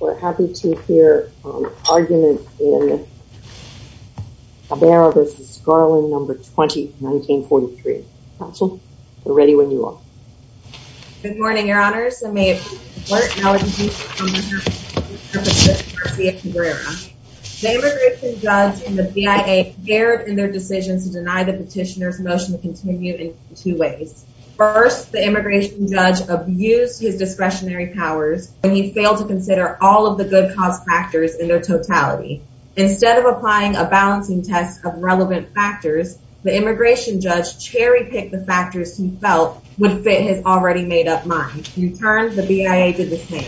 We're happy to hear argument in Cabrera v. Garland, No. 20, 1943. Counsel, we're ready when you are. Good morning, Your Honors, and may it please the Court, now I'd like to introduce you to Mr. Patrick Garcia Cabrera. The immigration judge and the BIA erred in their decision to deny the petitioner's motion to continue in two ways. First, the immigration judge abused his discretionary powers when he failed to consider all of the good cause factors in their totality. Instead of applying a balancing test of relevant factors, the immigration judge cherry-picked the factors he felt would fit his already made-up mind. In turn, the BIA did the same.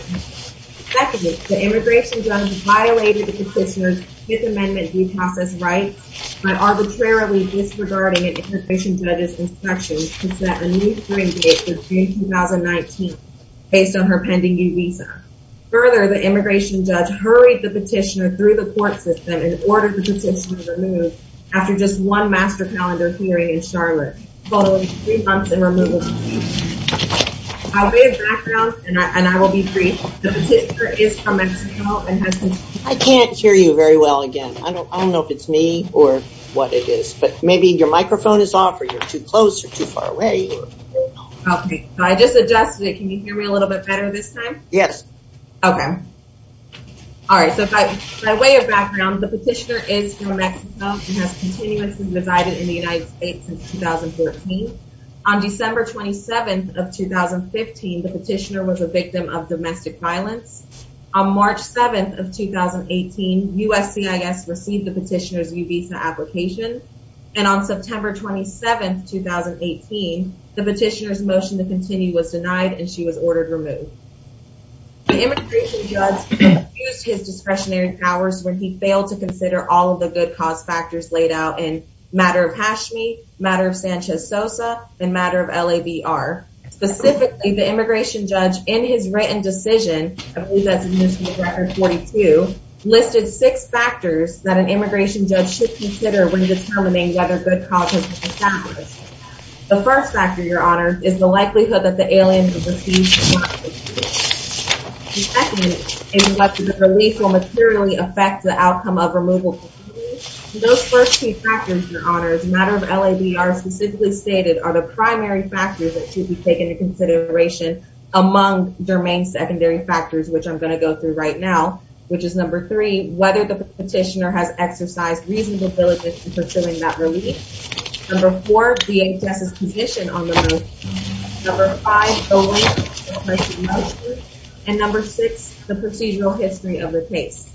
Secondly, the immigration judge violated the petitioner's Fifth Amendment due process rights by arbitrarily disregarding an immigration judge's instructions to set a new period for June 2019 based on her pending new visa. Further, the immigration judge hurried the petitioner through the court system and ordered the petitioner removed after just one master calendar hearing in Charlotte following three months in removal. I will be brief. The petitioner is from Mexico and has been... I can't hear you very well again. I don't know if it's me or what it is, but maybe your microphone is off or you're too close or too far away. Okay, I just adjusted it. Can you hear me a little bit better this time? Yes. Okay. All right, so by way of background, the petitioner is from Mexico and has continuously resided in the United States since 2014. On December 27th of 2015, the petitioner was a victim of domestic violence. On March 7th of 2018, USCIS received the petitioner's new visa application. And on September 27th, 2018, the petitioner's motion to continue was denied and she was ordered removed. The immigration judge used his discretionary powers when he failed to consider all of the good cause factors laid out in Matter of Hashmi, Matter of Sanchez-Sosa, and Matter of LABR. Specifically, the immigration judge, in his written decision, I believe that's in this record 42, listed six factors that an immigration judge should consider when determining whether good cause has been established. The first factor, Your Honor, is the likelihood that the alien will be seized. The second is whether the release will materially affect the outcome of removal. Those first three factors, Your Honor, as Matter of LABR specifically stated, are the primary factors that should be taken into consideration among their main secondary factors, which I'm going to go through right now, which is number three, whether the petitioner has exercised reasonable diligence in pursuing that release. Number four, DHS's position on the motion. Number five, the length of the motion. And number six, the procedural history of the case.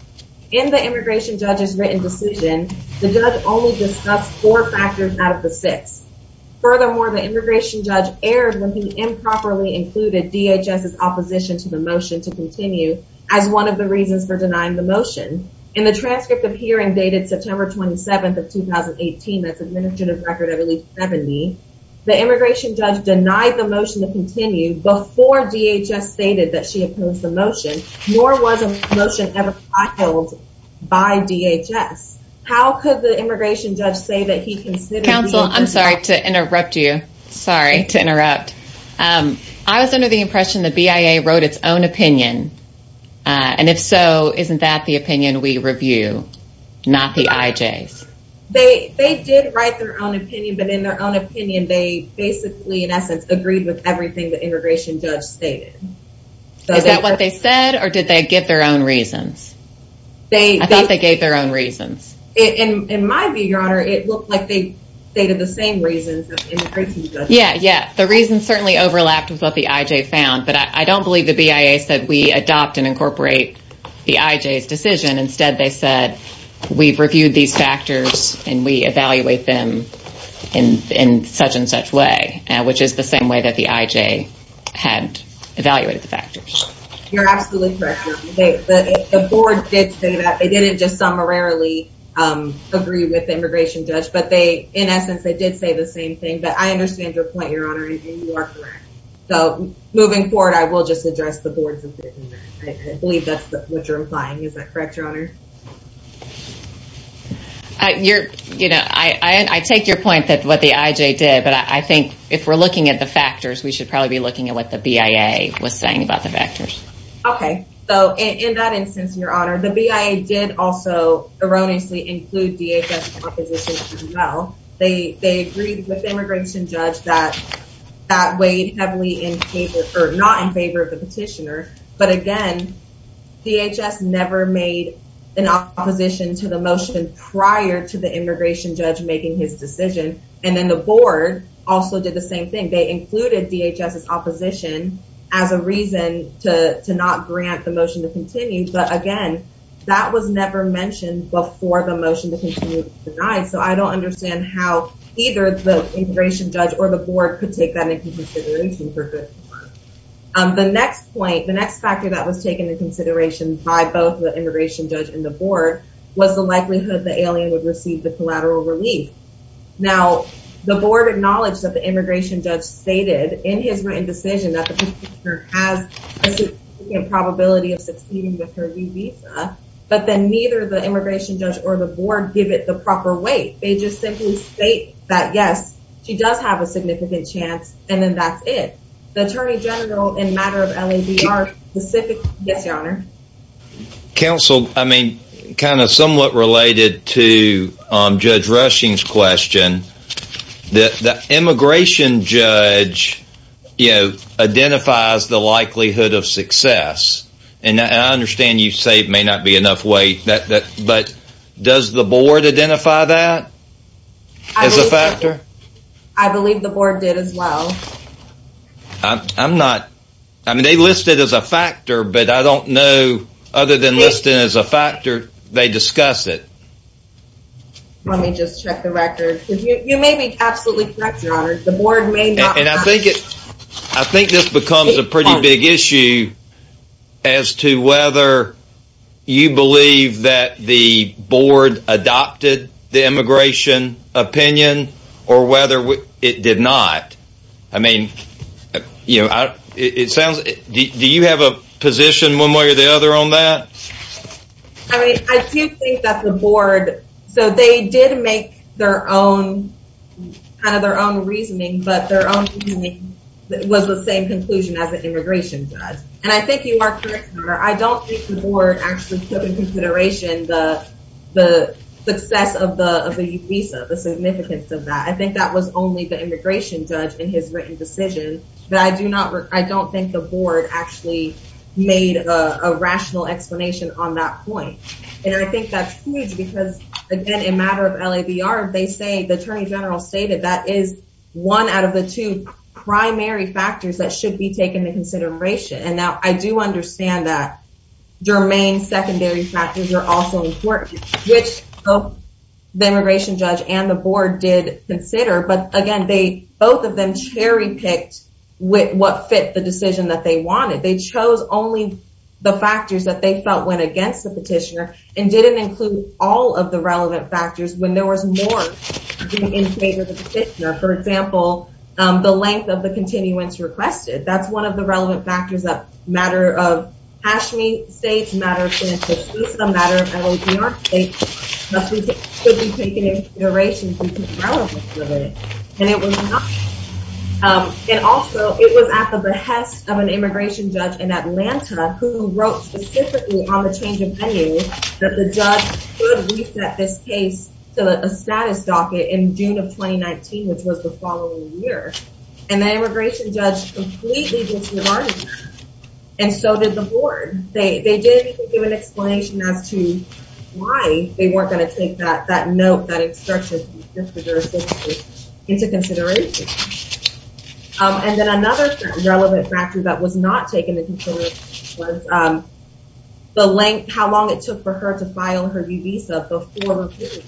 In the immigration judge's written decision, the judge only discussed four factors out of the six. Furthermore, the immigration judge erred when he improperly included DHS's opposition to the motion to continue as one of the reasons for denying the motion. In the transcript of hearing dated September 27th of 2018, that's an administrative record of at least 70, the immigration judge denied the motion to continue before DHS stated that she opposed the motion, nor was a motion ever filed by DHS. How could the immigration judge say that he considered the motion? Counsel, I'm sorry to interrupt you. Sorry to interrupt. I was under the impression that BIA wrote its own opinion, and if so, isn't that the opinion we review, not the IJ's? They did write their own opinion, but in their own opinion, they basically, in essence, agreed with everything the immigration judge stated. Is that what they said, or did they give their own reasons? I thought they gave their own reasons. In my view, Your Honor, it looked like they stated the same reasons Yeah, yeah. The reasons certainly overlapped with what the IJ found, but I don't believe the BIA said we adopt and incorporate the IJ's decision. Instead, they said we've reviewed these factors, and we evaluate them in such and such way, which is the same way that the IJ had evaluated the factors. You're absolutely correct, Your Honor. The board did say that. They didn't just summarily agree with the immigration judge, but in essence, they did say the same thing, but I understand your point, Your Honor, and you are correct. Moving forward, I will just address the boards a bit. I believe that's what you're implying. Is that correct, Your Honor? I take your point that what the IJ did, but I think if we're looking at the factors, we should probably be looking at what the BIA was saying about the factors. Okay. In that instance, Your Honor, the BIA did also erroneously include DHS's opposition as well. They agreed with the immigration judge that that weighed heavily in favor, or not in favor of the petitioner, but again, DHS never made an opposition to the motion prior to the immigration judge making his decision, and then the board also did the same thing. They included DHS's opposition as a reason to not grant the motion to continue, but again, that was never mentioned before the motion to continue was denied, so I don't understand how either the immigration judge or the board could take that into consideration for good. The next point, the next factor that was taken into consideration by both the immigration judge and the board was the likelihood the alien would receive the collateral relief. Now, the board acknowledged that the immigration judge stated in his written decision that the petitioner has a significant probability of succeeding with her new visa, but then neither the immigration judge or the board give it the proper weight. They just simply state that, yes, she does have a significant chance, and then that's it. The attorney general, in a matter of LADR, specifically... Yes, Your Honor. Counsel, I mean, kind of somewhat related to Judge Rushing's question, the immigration judge identifies the likelihood of success, and I understand you say it may not be enough weight, but does the board identify that as a factor? I believe the board did as well. I'm not... I mean, they list it as a factor, but I don't know, other than listed as a factor, they discuss it. Let me just check the record. You may be absolutely correct, Your Honor, the board may not... And I think this becomes a pretty big issue as to whether you believe that the board adopted the immigration opinion or whether it did not. I mean, you know, it sounds... Do you have a position one way or the other on that? I mean, I do think that the board... So they did make their own kind of their own reasoning, but their own reasoning was the same conclusion as the immigration judge, and I think you are correct, Your Honor. I don't think the board actually took into consideration the success of the visa, the significance of that. I think that was only the immigration judge in his written decision, but I don't think the board actually made a rational explanation on that point, and I think that's huge because, again, in matter of LADR, the attorney general stated that is one out of the two primary factors that should be taken into consideration, and now I do understand that germane secondary factors are also important, which the immigration judge and the board did consider, but, again, both of them cherry-picked what fit the decision that they wanted. They chose only the factors that they felt went against the petitioner and didn't include all of the relevant factors when there was more being in favor of the petitioner. For example, the length of the continuance requested. That's one of the relevant factors. That matter of Hashmi State's matter of financial visa, matter of LADR's case should be taken into consideration because of the relevance of it, and it was not. And also, it was at the behest of an immigration judge in Atlanta who wrote specifically on the change of pending that the judge could reset this case to a status docket in June of 2019, which was the following year, and the immigration judge completely disregarded that, and so did the board. They didn't even give an explanation as to why they weren't going to take that note, that instruction, into consideration. And then another relevant factor that was not taken into consideration was the length, how long it took for her to file her new visa before review.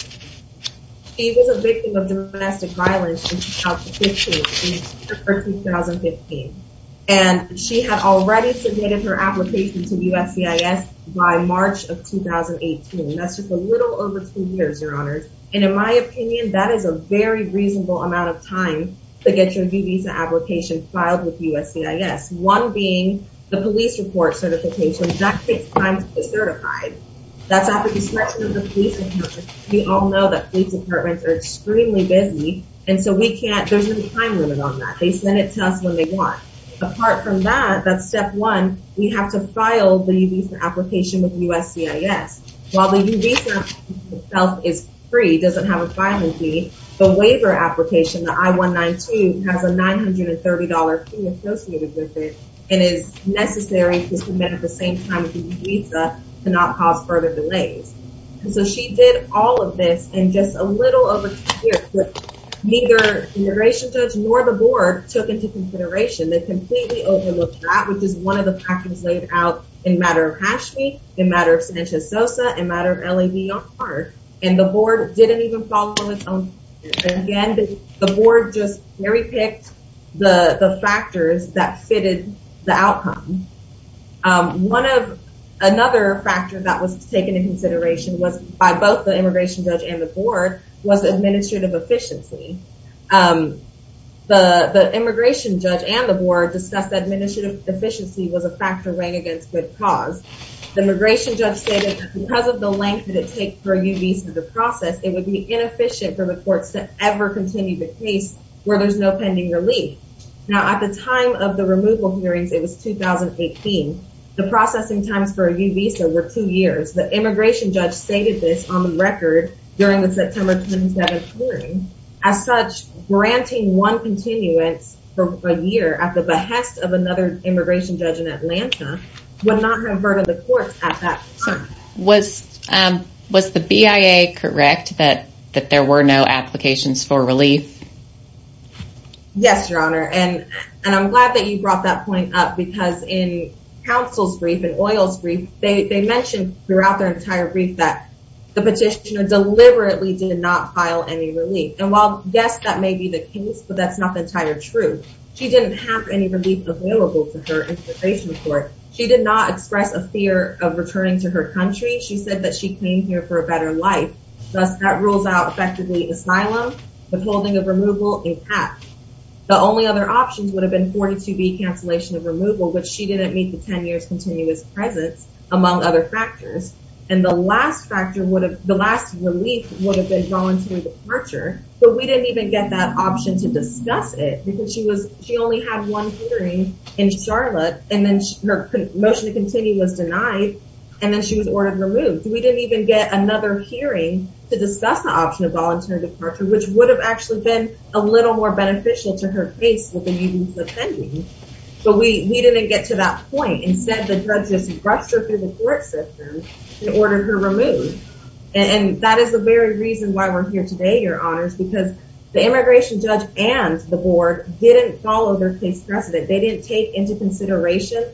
She was a victim of domestic violence in 2015. And she had already submitted her application to USCIS by March of 2018. That's just a little over two years, Your Honors. And in my opinion, that is a very reasonable amount of time to get your new visa application filed with USCIS, one being the police report certification. That takes time to get certified. That's at the discretion of the police department. We all know that police departments are extremely busy, and so there's no time limit on that. They send it to us when they want. Apart from that, that's step one. We have to file the new visa application with USCIS. While the new visa application itself is free, doesn't have a filing fee, the waiver application, the I-192, has a $930 fee associated with it and is necessary to submit at the same time as the new visa to not cause further delays. And so she did all of this in just a little over two years, but neither the immigration judge nor the board took into consideration. They completely overlooked that, which is one of the factors laid out in matter of Hatchme, in matter of Sanchez-Sosa, in matter of LED on par. And the board didn't even follow its own standards. Again, the board just very picked the factors that fitted the outcome. Another factor that was taken into consideration by both the immigration judge and the board was administrative efficiency. The immigration judge and the board discussed that administrative efficiency was a factor weighing against good cause. The immigration judge stated that because of the length that it takes for a new visa to process, it would be inefficient for the courts to ever continue the case where there's no pending relief. Now, at the time of the removal hearings, it was 2018. The processing times for a new visa were two years. The immigration judge stated this on the record during the September 27th hearing. As such, granting one continuance for a year at the behest of another immigration judge in Atlanta would not have verted the courts at that time. Was the BIA correct that there were no applications for relief? Yes, Your Honor. And I'm glad that you brought that point up because in counsel's brief and oil's brief, they mentioned throughout their entire brief that the petitioner deliberately did not file any relief. And while, yes, that may be the case, but that's not the entire truth. She didn't have any relief available to her immigration court. She did not express a fear of returning to her country. She said that she came here for a better life. Thus, that rules out effectively asylum, withholding of removal, and catch. The only other options would have been 42B, cancellation of removal, which she didn't meet the 10 years' continuous presence, among other factors. And the last relief would have been voluntary departure, but we didn't even get that option to discuss it because she only had one hearing in Charlotte, and then her motion to continue was denied, and then she was ordered removed. We didn't even get another hearing to discuss the option of voluntary departure, which would have actually been a little more beneficial to her case with the meetings attending. But we didn't get to that point. Instead, the judge just rushed her through the court system and ordered her removed. And that is the very reason why we're here today, Your Honors, because the immigration judge and the board didn't follow their case precedent. They didn't take into consideration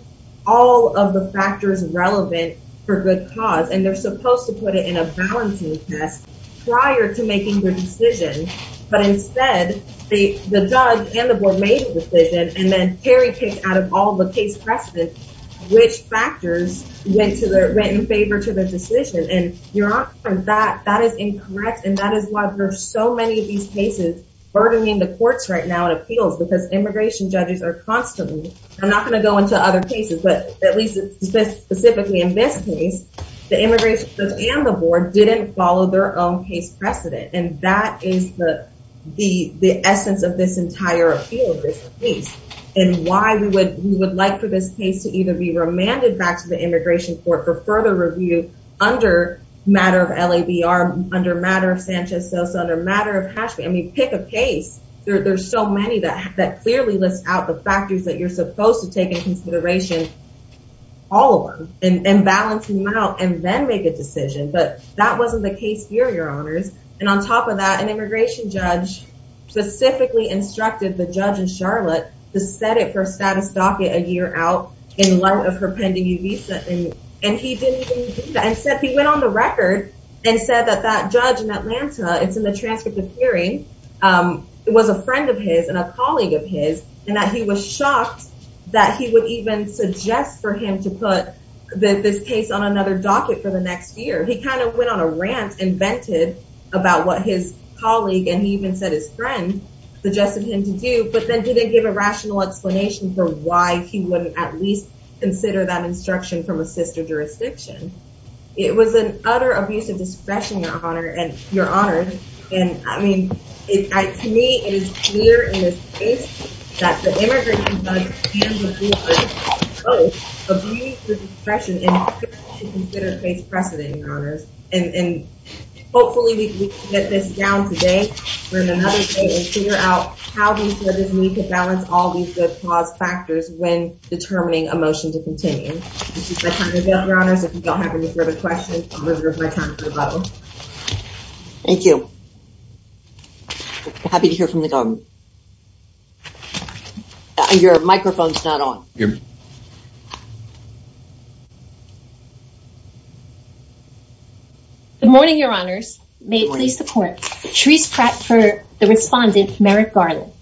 all of the factors relevant for good cause, and they're supposed to put it in a balancing test prior to making their decision. But instead, the judge and the board made a decision, and then Terry picked out of all the case precedents which factors went in favor to their decision. And, Your Honors, that is incorrect, and that is why there are so many of these cases burdening the courts right now in appeals because immigration judges are constantly, and I'm not going to go into other cases, but at least specifically in this case, the immigration judge and the board didn't follow their own case precedent, and that is the essence of this entire appeal of this case and why we would like for this case to either be remanded back to the immigration court for further review under matter of LABR, under matter of Sanchez-Sosa, under matter of Hashby. I mean, pick a case. There's so many that clearly list out the factors that you're supposed to take into consideration, all of them, and balance them out and then make a decision. But that wasn't the case here, Your Honors. And on top of that, an immigration judge specifically instructed the judge in Charlotte to set it for status docket a year out in light of her pending visa, and he didn't even do that. Instead, he went on the record and said that that judge in Atlanta, it's in the transcript of hearing, was a friend of his and a colleague of his and that he was shocked that he would even suggest for him to put this case on another docket for the next year. He kind of went on a rant and vented about what his colleague, and he even said his friend, suggested him to do, but then didn't give a rational explanation for why he wouldn't at least consider that instruction from a sister jurisdiction. It was an utter abuse of discretion, Your Honors, and, I mean, to me, it is clear in this case that the immigration judge and the court both abused the discretion and failed to consider case precedent, Your Honors. And hopefully we can get this down today or in another case and figure out how these judges need to balance all these good cause factors when determining a motion to continue. This is my time to go, Your Honors. If you don't have any further questions, I'm going to move my time to a vote. Thank you. Happy to hear from the government. Your microphone's not on. Good morning, Your Honors. May it please the court. Cherise Pratt for the respondent, Merrick Garland.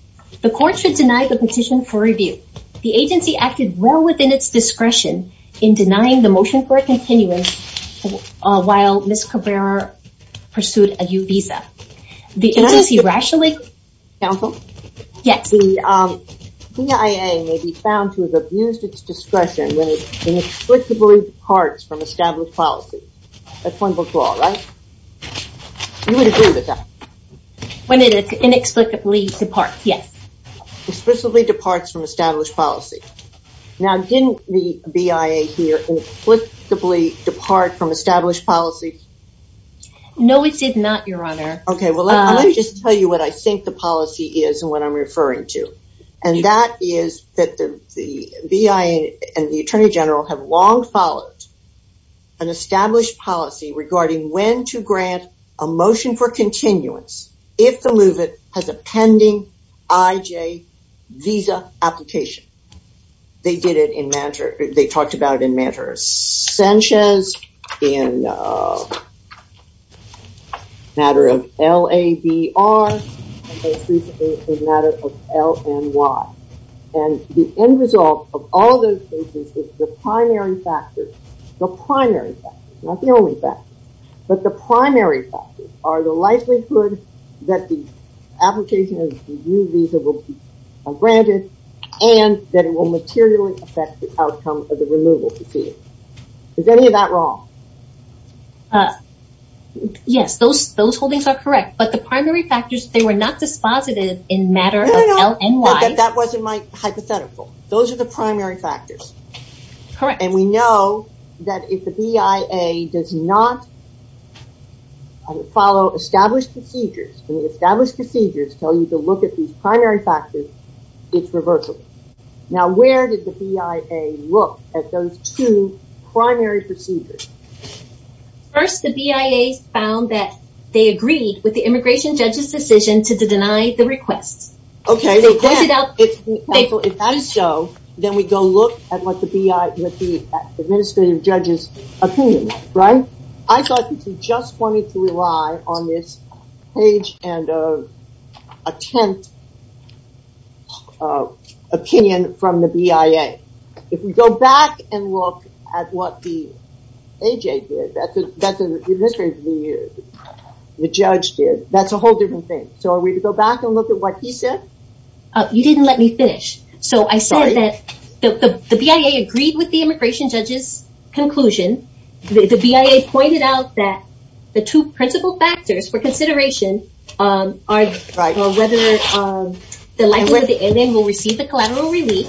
The court should deny the petition for review. The agency acted well within its discretion in denying the motion for a continuance while Ms. Cabrera pursued a new visa. Can I ask a question, counsel? Yes. The CIA may be found to have abused its discretion when it inexplicably departs from established policies. That's one before, right? You would agree with that? When it inexplicably departs, yes. Explicably departs from established policy. Now, didn't the BIA here inexplicably depart from established policy? No, it did not, Your Honor. Okay. Well, let me just tell you what I think the policy is and what I'm referring to. And that is that the BIA and the Attorney General have long followed an established policy regarding when to grant a motion for continuance if the movement has a pending IJ visa application. They did it in matter, they talked about it in matter of Sanchez, in matter of LABR, and most recently in matter of LNY. And the end result of all those cases is the primary factor, the primary factor, not the only factor, but the primary factors are the likelihood that the application of the new visa will be granted and that it will materially affect the outcome of the removal proceedings. Is any of that wrong? Yes, those holdings are correct. But the primary factors, they were not dispositive in matter of LNY. No, no, no, that wasn't my hypothetical. Those are the primary factors. Correct. And we know that if the BIA does not follow established procedures, and the established procedures tell you to look at these primary factors, it's reversible. Now, where did the BIA look at those two primary procedures? First, the BIA found that they agreed with the immigration judge's decision to deny the request. Okay, if that is so, then we go look at what the BIA, what the administrative judge's opinion, right? I thought that you just wanted to rely on this page and attempt opinion from the BIA. If we go back and look at what the AJ did, that's what the judge did, that's a whole different thing. So are we to go back and look at what he said? You didn't let me finish. So I said that the BIA agreed with the immigration judge's conclusion. The BIA pointed out that the two principal factors for consideration are whether the likelihood the alien will receive the collateral relief,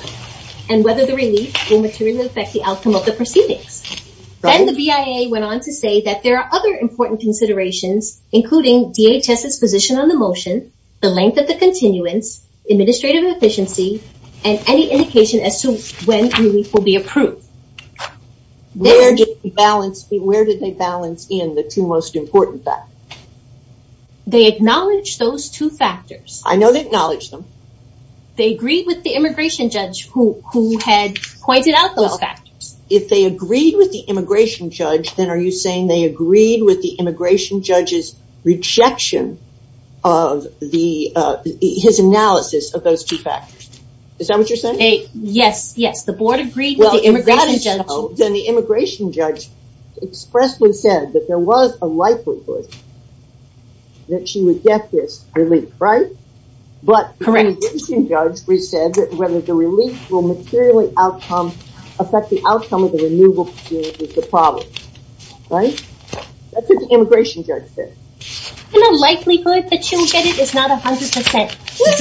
and whether the relief will materially affect the outcome of the proceedings. Then the BIA went on to say that there are other important considerations, including DHS's position on the motion, the length of the continuance, administrative efficiency, and any indication as to when relief will be approved. Where did they balance in the two most important factors? They acknowledged those two factors. I know they acknowledged them. They agreed with the immigration judge who had pointed out those factors. If they agreed with the immigration judge, then are you saying they agreed with the immigration judge's rejection of his analysis of those two factors? Is that what you're saying? Yes, yes. The board agreed with the immigration judge. Then the immigration judge expressly said that there was a likelihood that she would get this relief, right? Correct. But the immigration judge said that whether the relief will materially affect the outcome of the removal proceedings is the problem, right? That's what the immigration judge said. The likelihood that she'll get it is not 100%. I'm not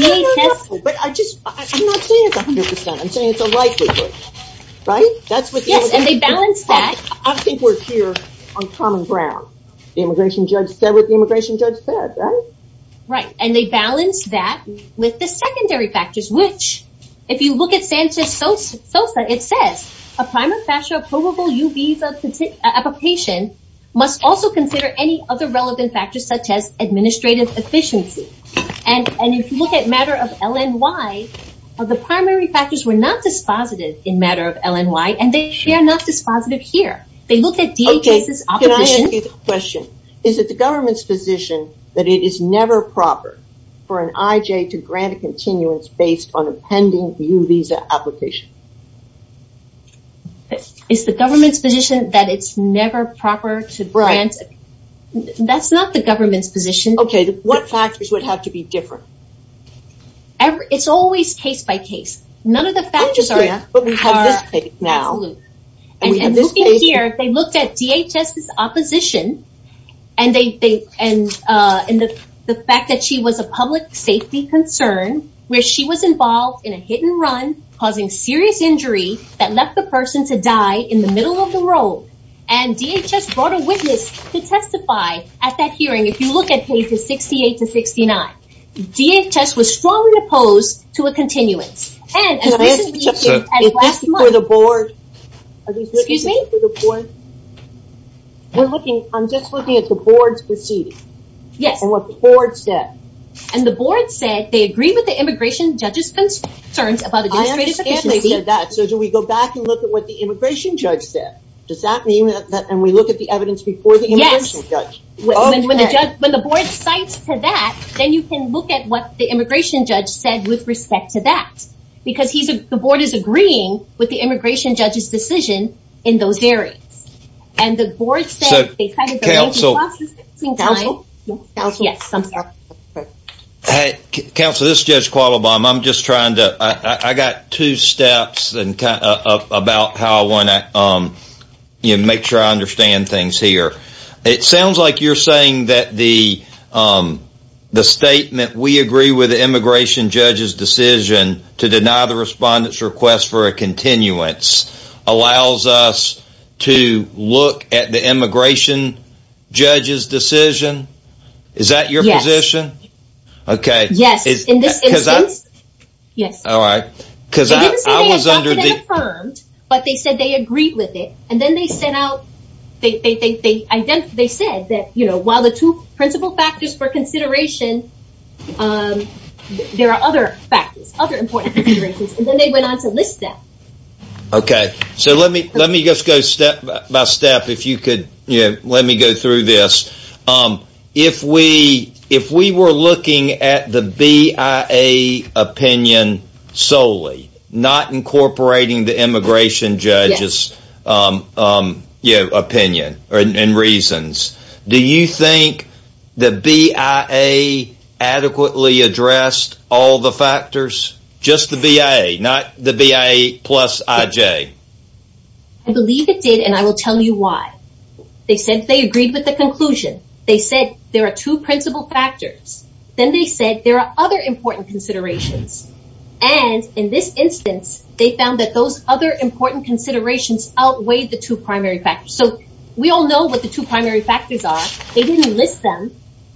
saying it's 100%. I'm saying it's a likelihood, right? Yes, and they balanced that. I think we're here on common ground. The immigration judge said what the immigration judge said, right? Right, and they balanced that with the secondary factors, which if you look at Sanchez-Sosa, it says, a primary factor of probable UBs of a patient must also consider any other relevant factors such as administrative efficiency. And if you look at matter of LNY, the primary factors were not dispositive in matter of LNY, and they are not dispositive here. They looked at DA cases opposition. Is it the government's position that it is never proper for an IJ to grant a continuance based on a pending U visa application? It's the government's position that it's never proper to grant. That's not the government's position. Okay, what factors would have to be different? It's always case by case. None of the factors are absolute. And looking here, they looked at DHS's opposition and the fact that she was a public safety concern, where she was involved in a hit and run causing serious injury that left the person to die in the middle of the road. And DHS brought a witness to testify at that hearing. If you look at cases 68 to 69, DHS was strongly opposed to a continuance. Excuse me? I'm just looking at the board's proceedings. Yes. And what the board said. And the board said they agree with the immigration judge's concerns about administrative efficiency. So do we go back and look at what the immigration judge said? Does that mean that we look at the evidence before the immigration judge? When the board cites to that, then you can look at what the immigration judge said with respect to that. Because the board is agreeing with the immigration judge's decision in those areas. And the board said they kind of delayed the processing time. Counsel, this is Judge Qualabam. I'm just trying to, I got two steps about how I want to make sure I understand things here. It sounds like you're saying that the statement, we agree with the immigration judge's decision to deny the respondent's request for a continuance, allows us to look at the immigration judge's decision? Is that your position? Yes. Okay. Yes, in this instance. Alright. They didn't say they adopted and affirmed, but they said they agreed with it. And then they said that while the two principal factors for consideration, there are other factors, other important considerations. And then they went on to list them. Okay. So let me just go step by step. If you could let me go through this. If we were looking at the BIA opinion solely, not incorporating the immigration judge's opinion and reasons, do you think the BIA adequately addressed all the factors? Just the BIA, not the BIA plus IJ? I believe it did, and I will tell you why. They said they agreed with the conclusion. They said there are two principal factors. Then they said there are other important considerations. And in this instance, they found that those other important considerations outweighed the two primary factors. So we all know what the two primary factors are. They didn't list them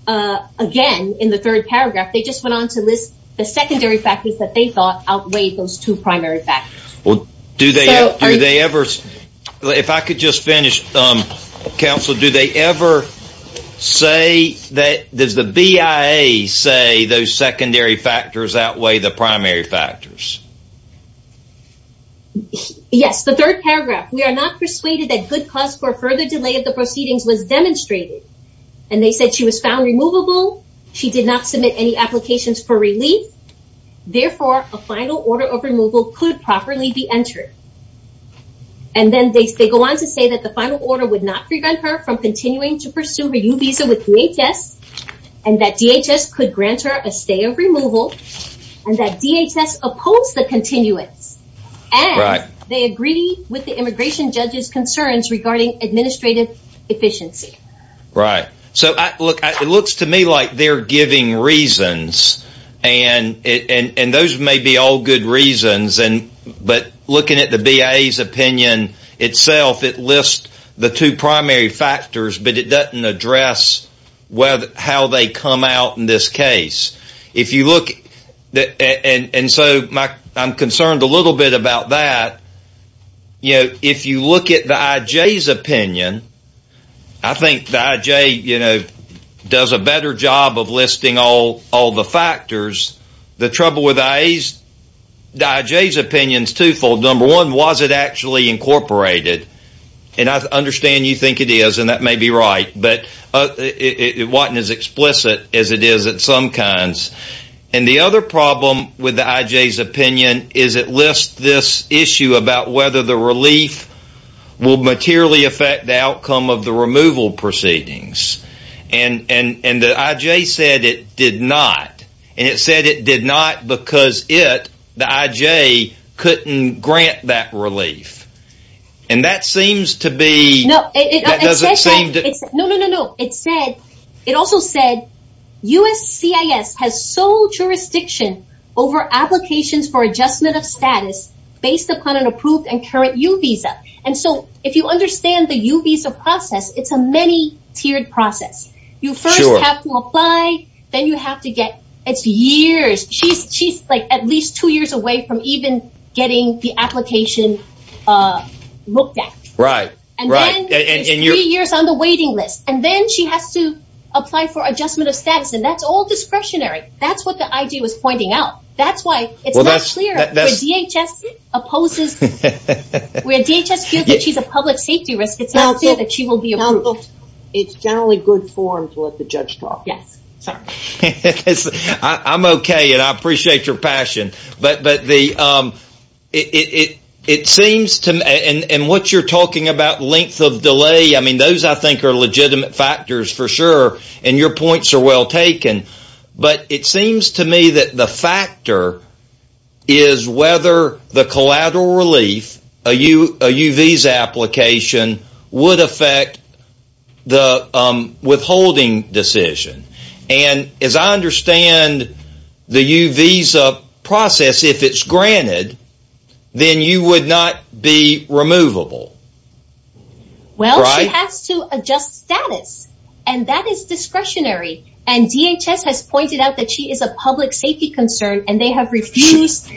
again in the third paragraph. They just went on to list the secondary factors that they thought outweighed those two primary factors. Well, do they ever, if I could just finish. Counsel, do they ever say that, does the BIA say those secondary factors outweigh the primary factors? Yes, the third paragraph. We are not persuaded that good cause for further delay of the proceedings was demonstrated. And they said she was found removable. She did not submit any applications for relief. Therefore, a final order of removal could properly be entered. And then they go on to say that the final order would not prevent her from continuing to pursue her new visa with DHS. And that DHS could grant her a stay of removal. And that DHS opposed the continuance. And they agree with the immigration judge's concerns regarding administrative efficiency. Right. So, look, it looks to me like they're giving reasons. And those may be all good reasons. But looking at the BIA's opinion itself, it lists the two primary factors, but it doesn't address how they come out in this case. If you look, and so I'm concerned a little bit about that. If you look at the IJ's opinion, I think the IJ does a better job of listing all the factors. The trouble with the IJ's opinion is twofold. Number one, was it actually incorporated? And I understand you think it is, and that may be right. But it wasn't as explicit as it is at some kinds. And the other problem with the IJ's opinion is it lists this issue about whether the relief will materially affect the outcome of the removal proceedings. And the IJ said it did not. And it said it did not because it, the IJ, couldn't grant that relief. And that seems to be... No, no, no, no. It also said USCIS has sole jurisdiction over applications for adjustment of status based upon an approved and current U visa. And so if you understand the U visa process, it's a many-tiered process. You first have to apply, then you have to get... It's years. She's at least two years away from even getting the application looked at. Right, right. It's three years on the waiting list. And then she has to apply for adjustment of status, and that's all discretionary. That's what the IJ was pointing out. That's why it's not clear where DHS opposes... Where DHS feels that she's a public safety risk, it's not clear that she will be approved. It's generally good form to let the judge talk. Yes. Sorry. I'm okay, and I appreciate your passion. But it seems to me... And what you're talking about, length of delay, I mean, those I think are legitimate factors for sure, and your points are well taken. But it seems to me that the factor is whether the collateral relief, a U visa application, would affect the withholding decision. And as I understand the U visa process, if it's granted, then you would not be removable. Well, she has to adjust status, and that is discretionary. And DHS has pointed out that she is a public safety concern, and they have refused...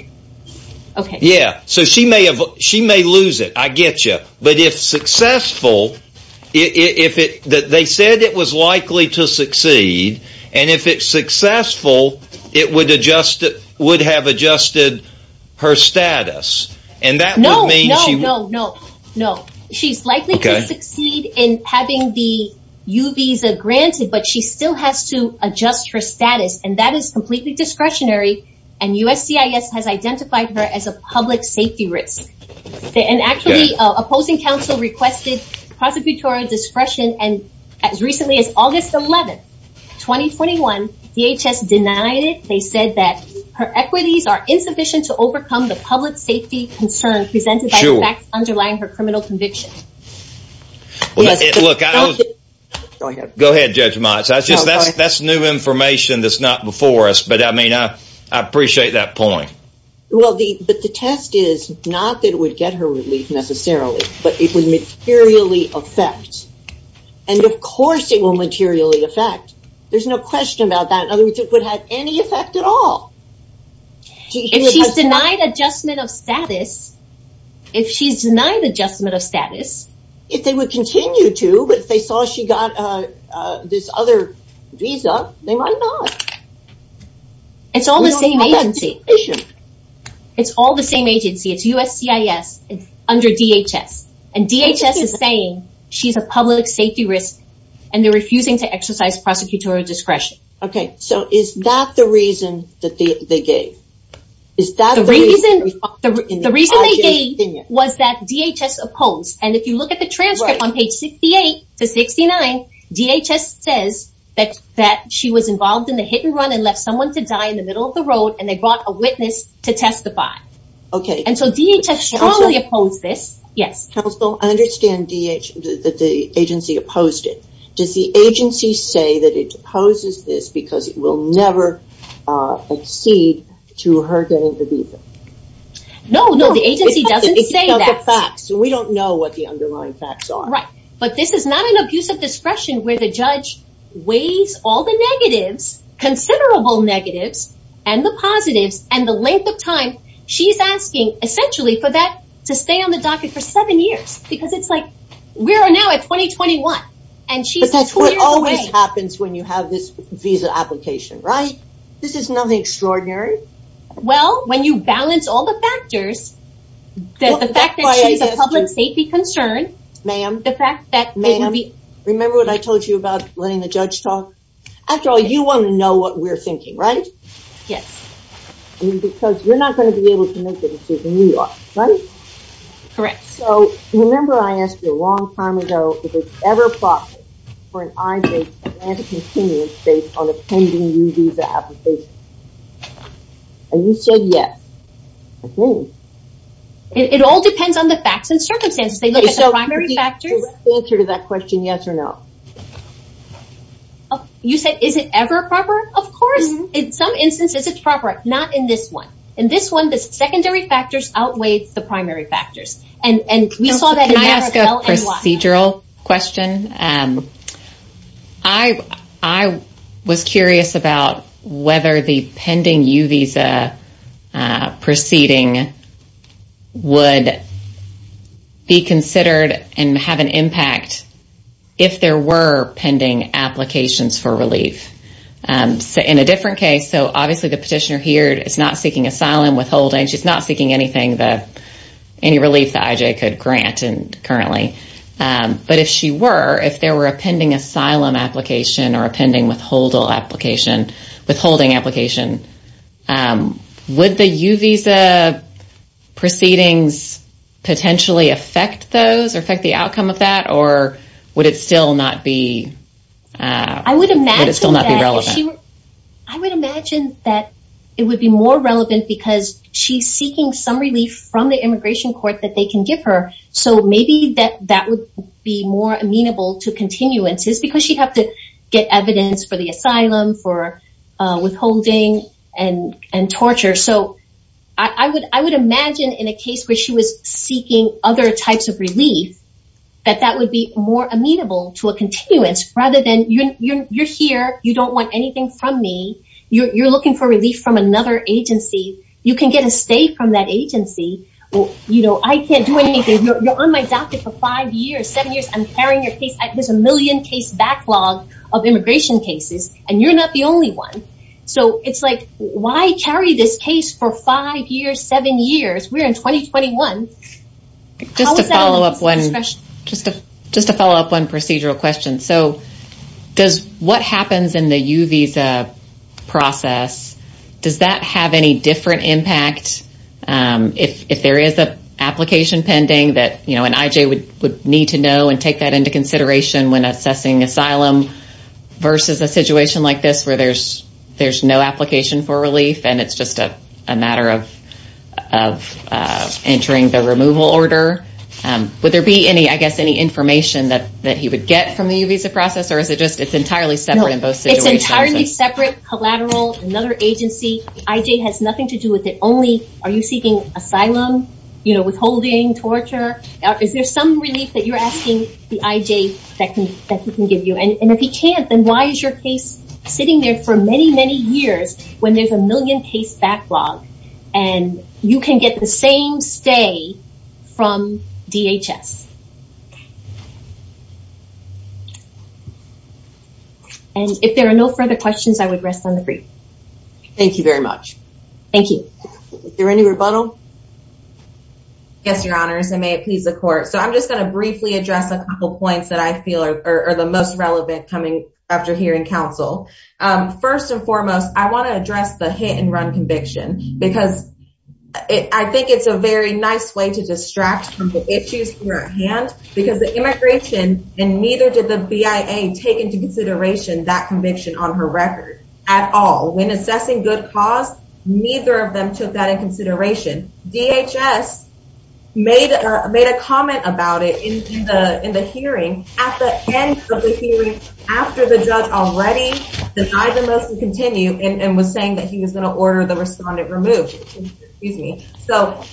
Okay. Yeah. So she may lose it. I get you. But if successful, they said it was likely to succeed, and if it's successful, it would have adjusted her status. No, no, no, no. She's likely to succeed in having the U visa granted, but she still has to adjust her status. And that is completely discretionary, and USCIS has identified her as a public safety risk. And actually, opposing counsel requested prosecutorial discretion, and as recently as August 11, 2021, DHS denied it. They said that her equities are insufficient to overcome the public safety concern presented by the facts underlying her criminal conviction. Go ahead. Go ahead, Judge Motz. That's new information that's not before us, but I mean, I appreciate that point. Well, but the test is not that it would get her relief necessarily, but it would materially affect. And of course it will materially affect. There's no question about that. In other words, it would have any effect at all. If she's denied adjustment of status, if she's denied adjustment of status... If they would continue to, but if they saw she got this other visa, they might not. It's all the same agency. It's all the same agency. It's USCIS under DHS, and DHS is saying she's a public safety risk, and they're refusing to exercise prosecutorial discretion. Okay, so is that the reason that they gave? The reason they gave was that DHS opposed, and if you look at the transcript on page 68 to 69, DHS says that she was involved in the hit and run and left someone to die in the middle of the road, and they brought a witness to testify. Okay. And so DHS strongly opposed this. Counsel, I understand that the agency opposed it. Does the agency say that it opposes this because it will never accede to her getting the visa? No, no, the agency doesn't say that. It's just the facts, and we don't know what the underlying facts are. All right, but this is not an abuse of discretion where the judge weighs all the negatives, considerable negatives, and the positives, and the length of time she's asking, essentially, for that to stay on the docket for seven years, because it's like we are now at 2021, and she's two years away. But that's what always happens when you have this visa application, right? This is nothing extraordinary. Well, when you balance all the factors, the fact that she's a public safety concern. Ma'am, remember what I told you about letting the judge talk? After all, you want to know what we're thinking, right? Yes. Because you're not going to be able to make the decision you are, right? Correct. So, remember I asked you a long time ago if it's ever proper for an I-date to land a continuous date on a pending U visa application? And you said yes, I think. It all depends on the facts and circumstances. They look at the primary factors. So, direct answer to that question, yes or no. You said, is it ever proper? Of course. In some instances, it's proper. Not in this one. In this one, the secondary factors outweigh the primary factors. Can I ask a procedural question? I was curious about whether the pending U visa proceeding would be considered and have an impact if there were pending applications for relief. In a different case, so obviously the petitioner here is not seeking asylum withholding. She's not seeking any relief that IJ could grant currently. But if she were, if there were a pending asylum application or a pending withholding application, would the U visa proceedings potentially affect those or affect the outcome of that? Or would it still not be relevant? I would imagine that it would be more relevant because she's seeking some relief from the immigration court that they can give her. So, maybe that would be more amenable to continuances because she'd have to get evidence for the asylum, for withholding and torture. So, I would imagine in a case where she was seeking other types of relief, that that would be more amenable to a continuance rather than you're here. You don't want anything from me. You're looking for relief from another agency. You can get a stay from that agency. You know, I can't do anything. You're on my doctor for five years, seven years. I'm carrying your case. There's a million case backlog of immigration cases, and you're not the only one. So, it's like, why carry this case for five years, seven years? We're in 2021. Just to follow up one procedural question. So, does what happens in the U visa process, does that have any different impact? If there is an application pending that, you know, an IJ would need to know and take that into consideration when assessing asylum versus a situation like this where there's no application for relief and it's just a matter of entering the removal order. Would there be any, I guess, any information that he would get from the U visa process, or is it just entirely separate in both situations? It's entirely separate, collateral, another agency. The IJ has nothing to do with it. Only, are you seeking asylum, you know, withholding, torture? Is there some relief that you're asking the IJ that he can give you? And if he can't, then why is your case sitting there for many, many years when there's a million case backlog and you can get the same stay from DHS? And if there are no further questions, I would rest on the brief. Thank you very much. Thank you. Is there any rebuttal? Yes, your honors, and may it please the court. So, I'm just going to briefly address a couple points that I feel are the most relevant coming after hearing counsel. First and foremost, I want to address the hit and run conviction, because I think it's a very nice way to distract from the issues here at hand. Because the immigration, and neither did the BIA take into consideration that conviction on her record at all. When assessing good cause, neither of them took that into consideration. DHS made a comment about it in the hearing at the end of the hearing, after the judge already denied the motion to continue and was saying that he was going to order the respondent removed. And even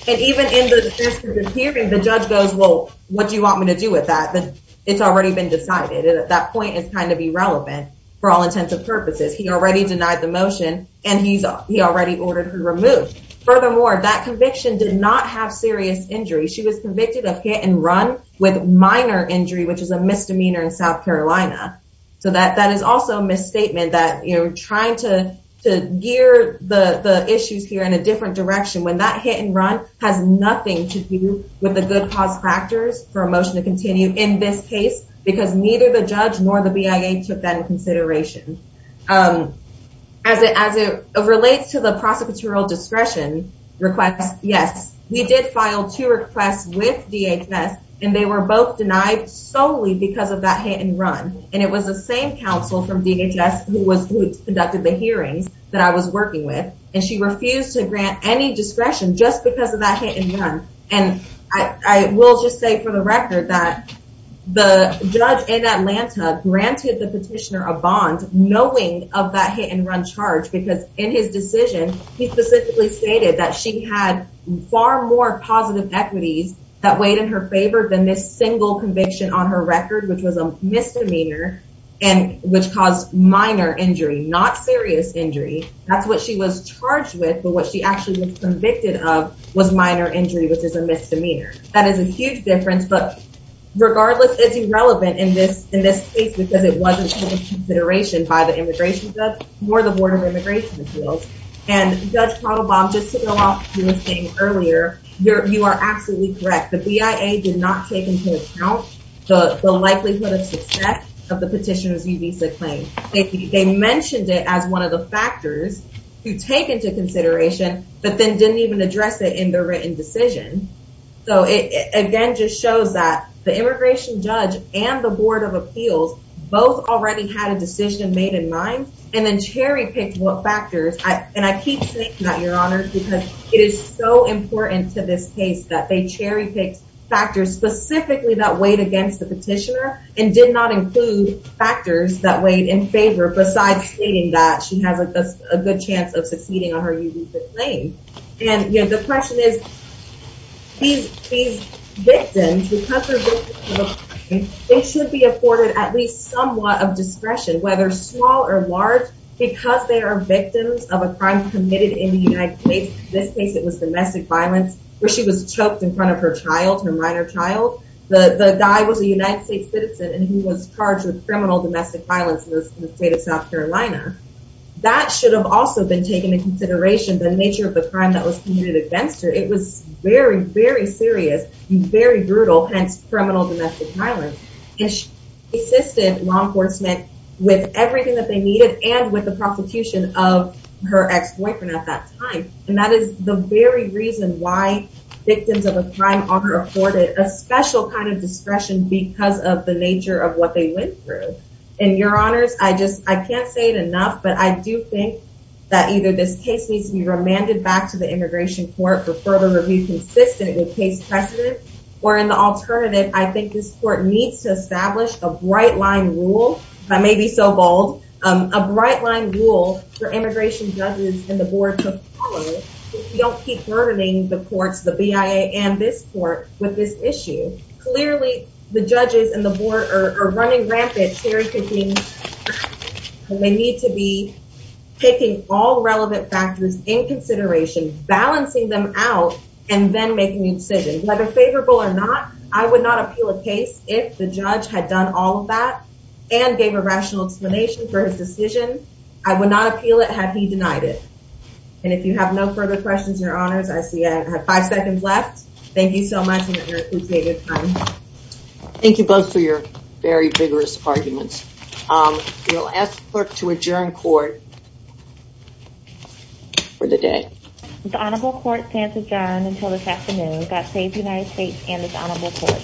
in the hearing, the judge goes, well, what do you want me to do with that? It's already been decided. And at that point, it's kind of irrelevant for all intents and purposes. He already denied the motion, and he already ordered her removed. Furthermore, that conviction did not have serious injury. She was convicted of hit and run with minor injury, which is a misdemeanor in South Carolina. So, that is also a misstatement that you're trying to gear the issues here in a different direction. When that hit and run has nothing to do with the good cause factors for a motion to continue in this case, because neither the judge nor the BIA took that into consideration. As it relates to the prosecutorial discretion request, yes, we did file two requests with DHS, and they were both denied solely because of that hit and run. And it was the same counsel from DHS who conducted the hearings that I was working with, and she refused to grant any discretion just because of that hit and run. And I will just say for the record that the judge in Atlanta granted the petitioner a bond knowing of that hit and run charge, because in his decision, he specifically stated that she had far more positive equities that weighed in her favor than this single conviction on her record, which was a misdemeanor and which caused minor injury, not serious injury. That's what she was charged with, but what she actually was convicted of was minor injury, which is a misdemeanor. That is a huge difference, but regardless, it's irrelevant in this case because it wasn't taken into consideration by the immigration judge nor the Board of Immigration Appeals. And Judge Pradobaum, just to go off of what you were saying earlier, you are absolutely correct. The BIA did not take into account the likelihood of success of the petitioner's e-visa claim. They mentioned it as one of the factors to take into consideration, but then didn't even address it in their written decision. So it again just shows that the immigration judge and the Board of Appeals both already had a decision made in mind and then cherry-picked what factors. And I keep saying that, Your Honor, because it is so important to this case that they cherry-picked factors specifically that weighed against the petitioner and did not include factors that weighed in favor besides stating that she has a good chance of succeeding on her e-visa claim. And the question is, these victims, because they're victims of a crime, they should be afforded at least somewhat of discretion, whether small or large, because they are victims of a crime committed in the United States. In this case, it was domestic violence where she was choked in front of her child, her minor child. The guy was a United States citizen and he was charged with criminal domestic violence in the state of South Carolina. That should have also been taken into consideration, the nature of the crime that was committed against her. It was very, very serious and very brutal, hence criminal domestic violence. And she assisted law enforcement with everything that they needed and with the prosecution of her ex-boyfriend at that time. And that is the very reason why victims of a crime are afforded a special kind of discretion because of the nature of what they went through. And your honors, I just, I can't say it enough, but I do think that either this case needs to be remanded back to the immigration court for further review consistent with case precedent. Or in the alternative, I think this court needs to establish a bright line rule, if I may be so bold, a bright line rule for immigration judges and the board to follow. If we don't keep burdening the courts, the BIA and this court with this issue. Clearly, the judges and the board are running rampant, cherry picking, and they need to be taking all relevant factors in consideration, balancing them out, and then making a decision. Whether favorable or not, I would not appeal a case if the judge had done all of that and gave a rational explanation for his decision. I would not appeal it had he denied it. And if you have no further questions, your honors, I see I have five seconds left. Thank you so much for your time. Thank you both for your very vigorous arguments. We'll ask the clerk to adjourn court for the day. The honorable court stands adjourned until this afternoon. God save the United States and his honorable court.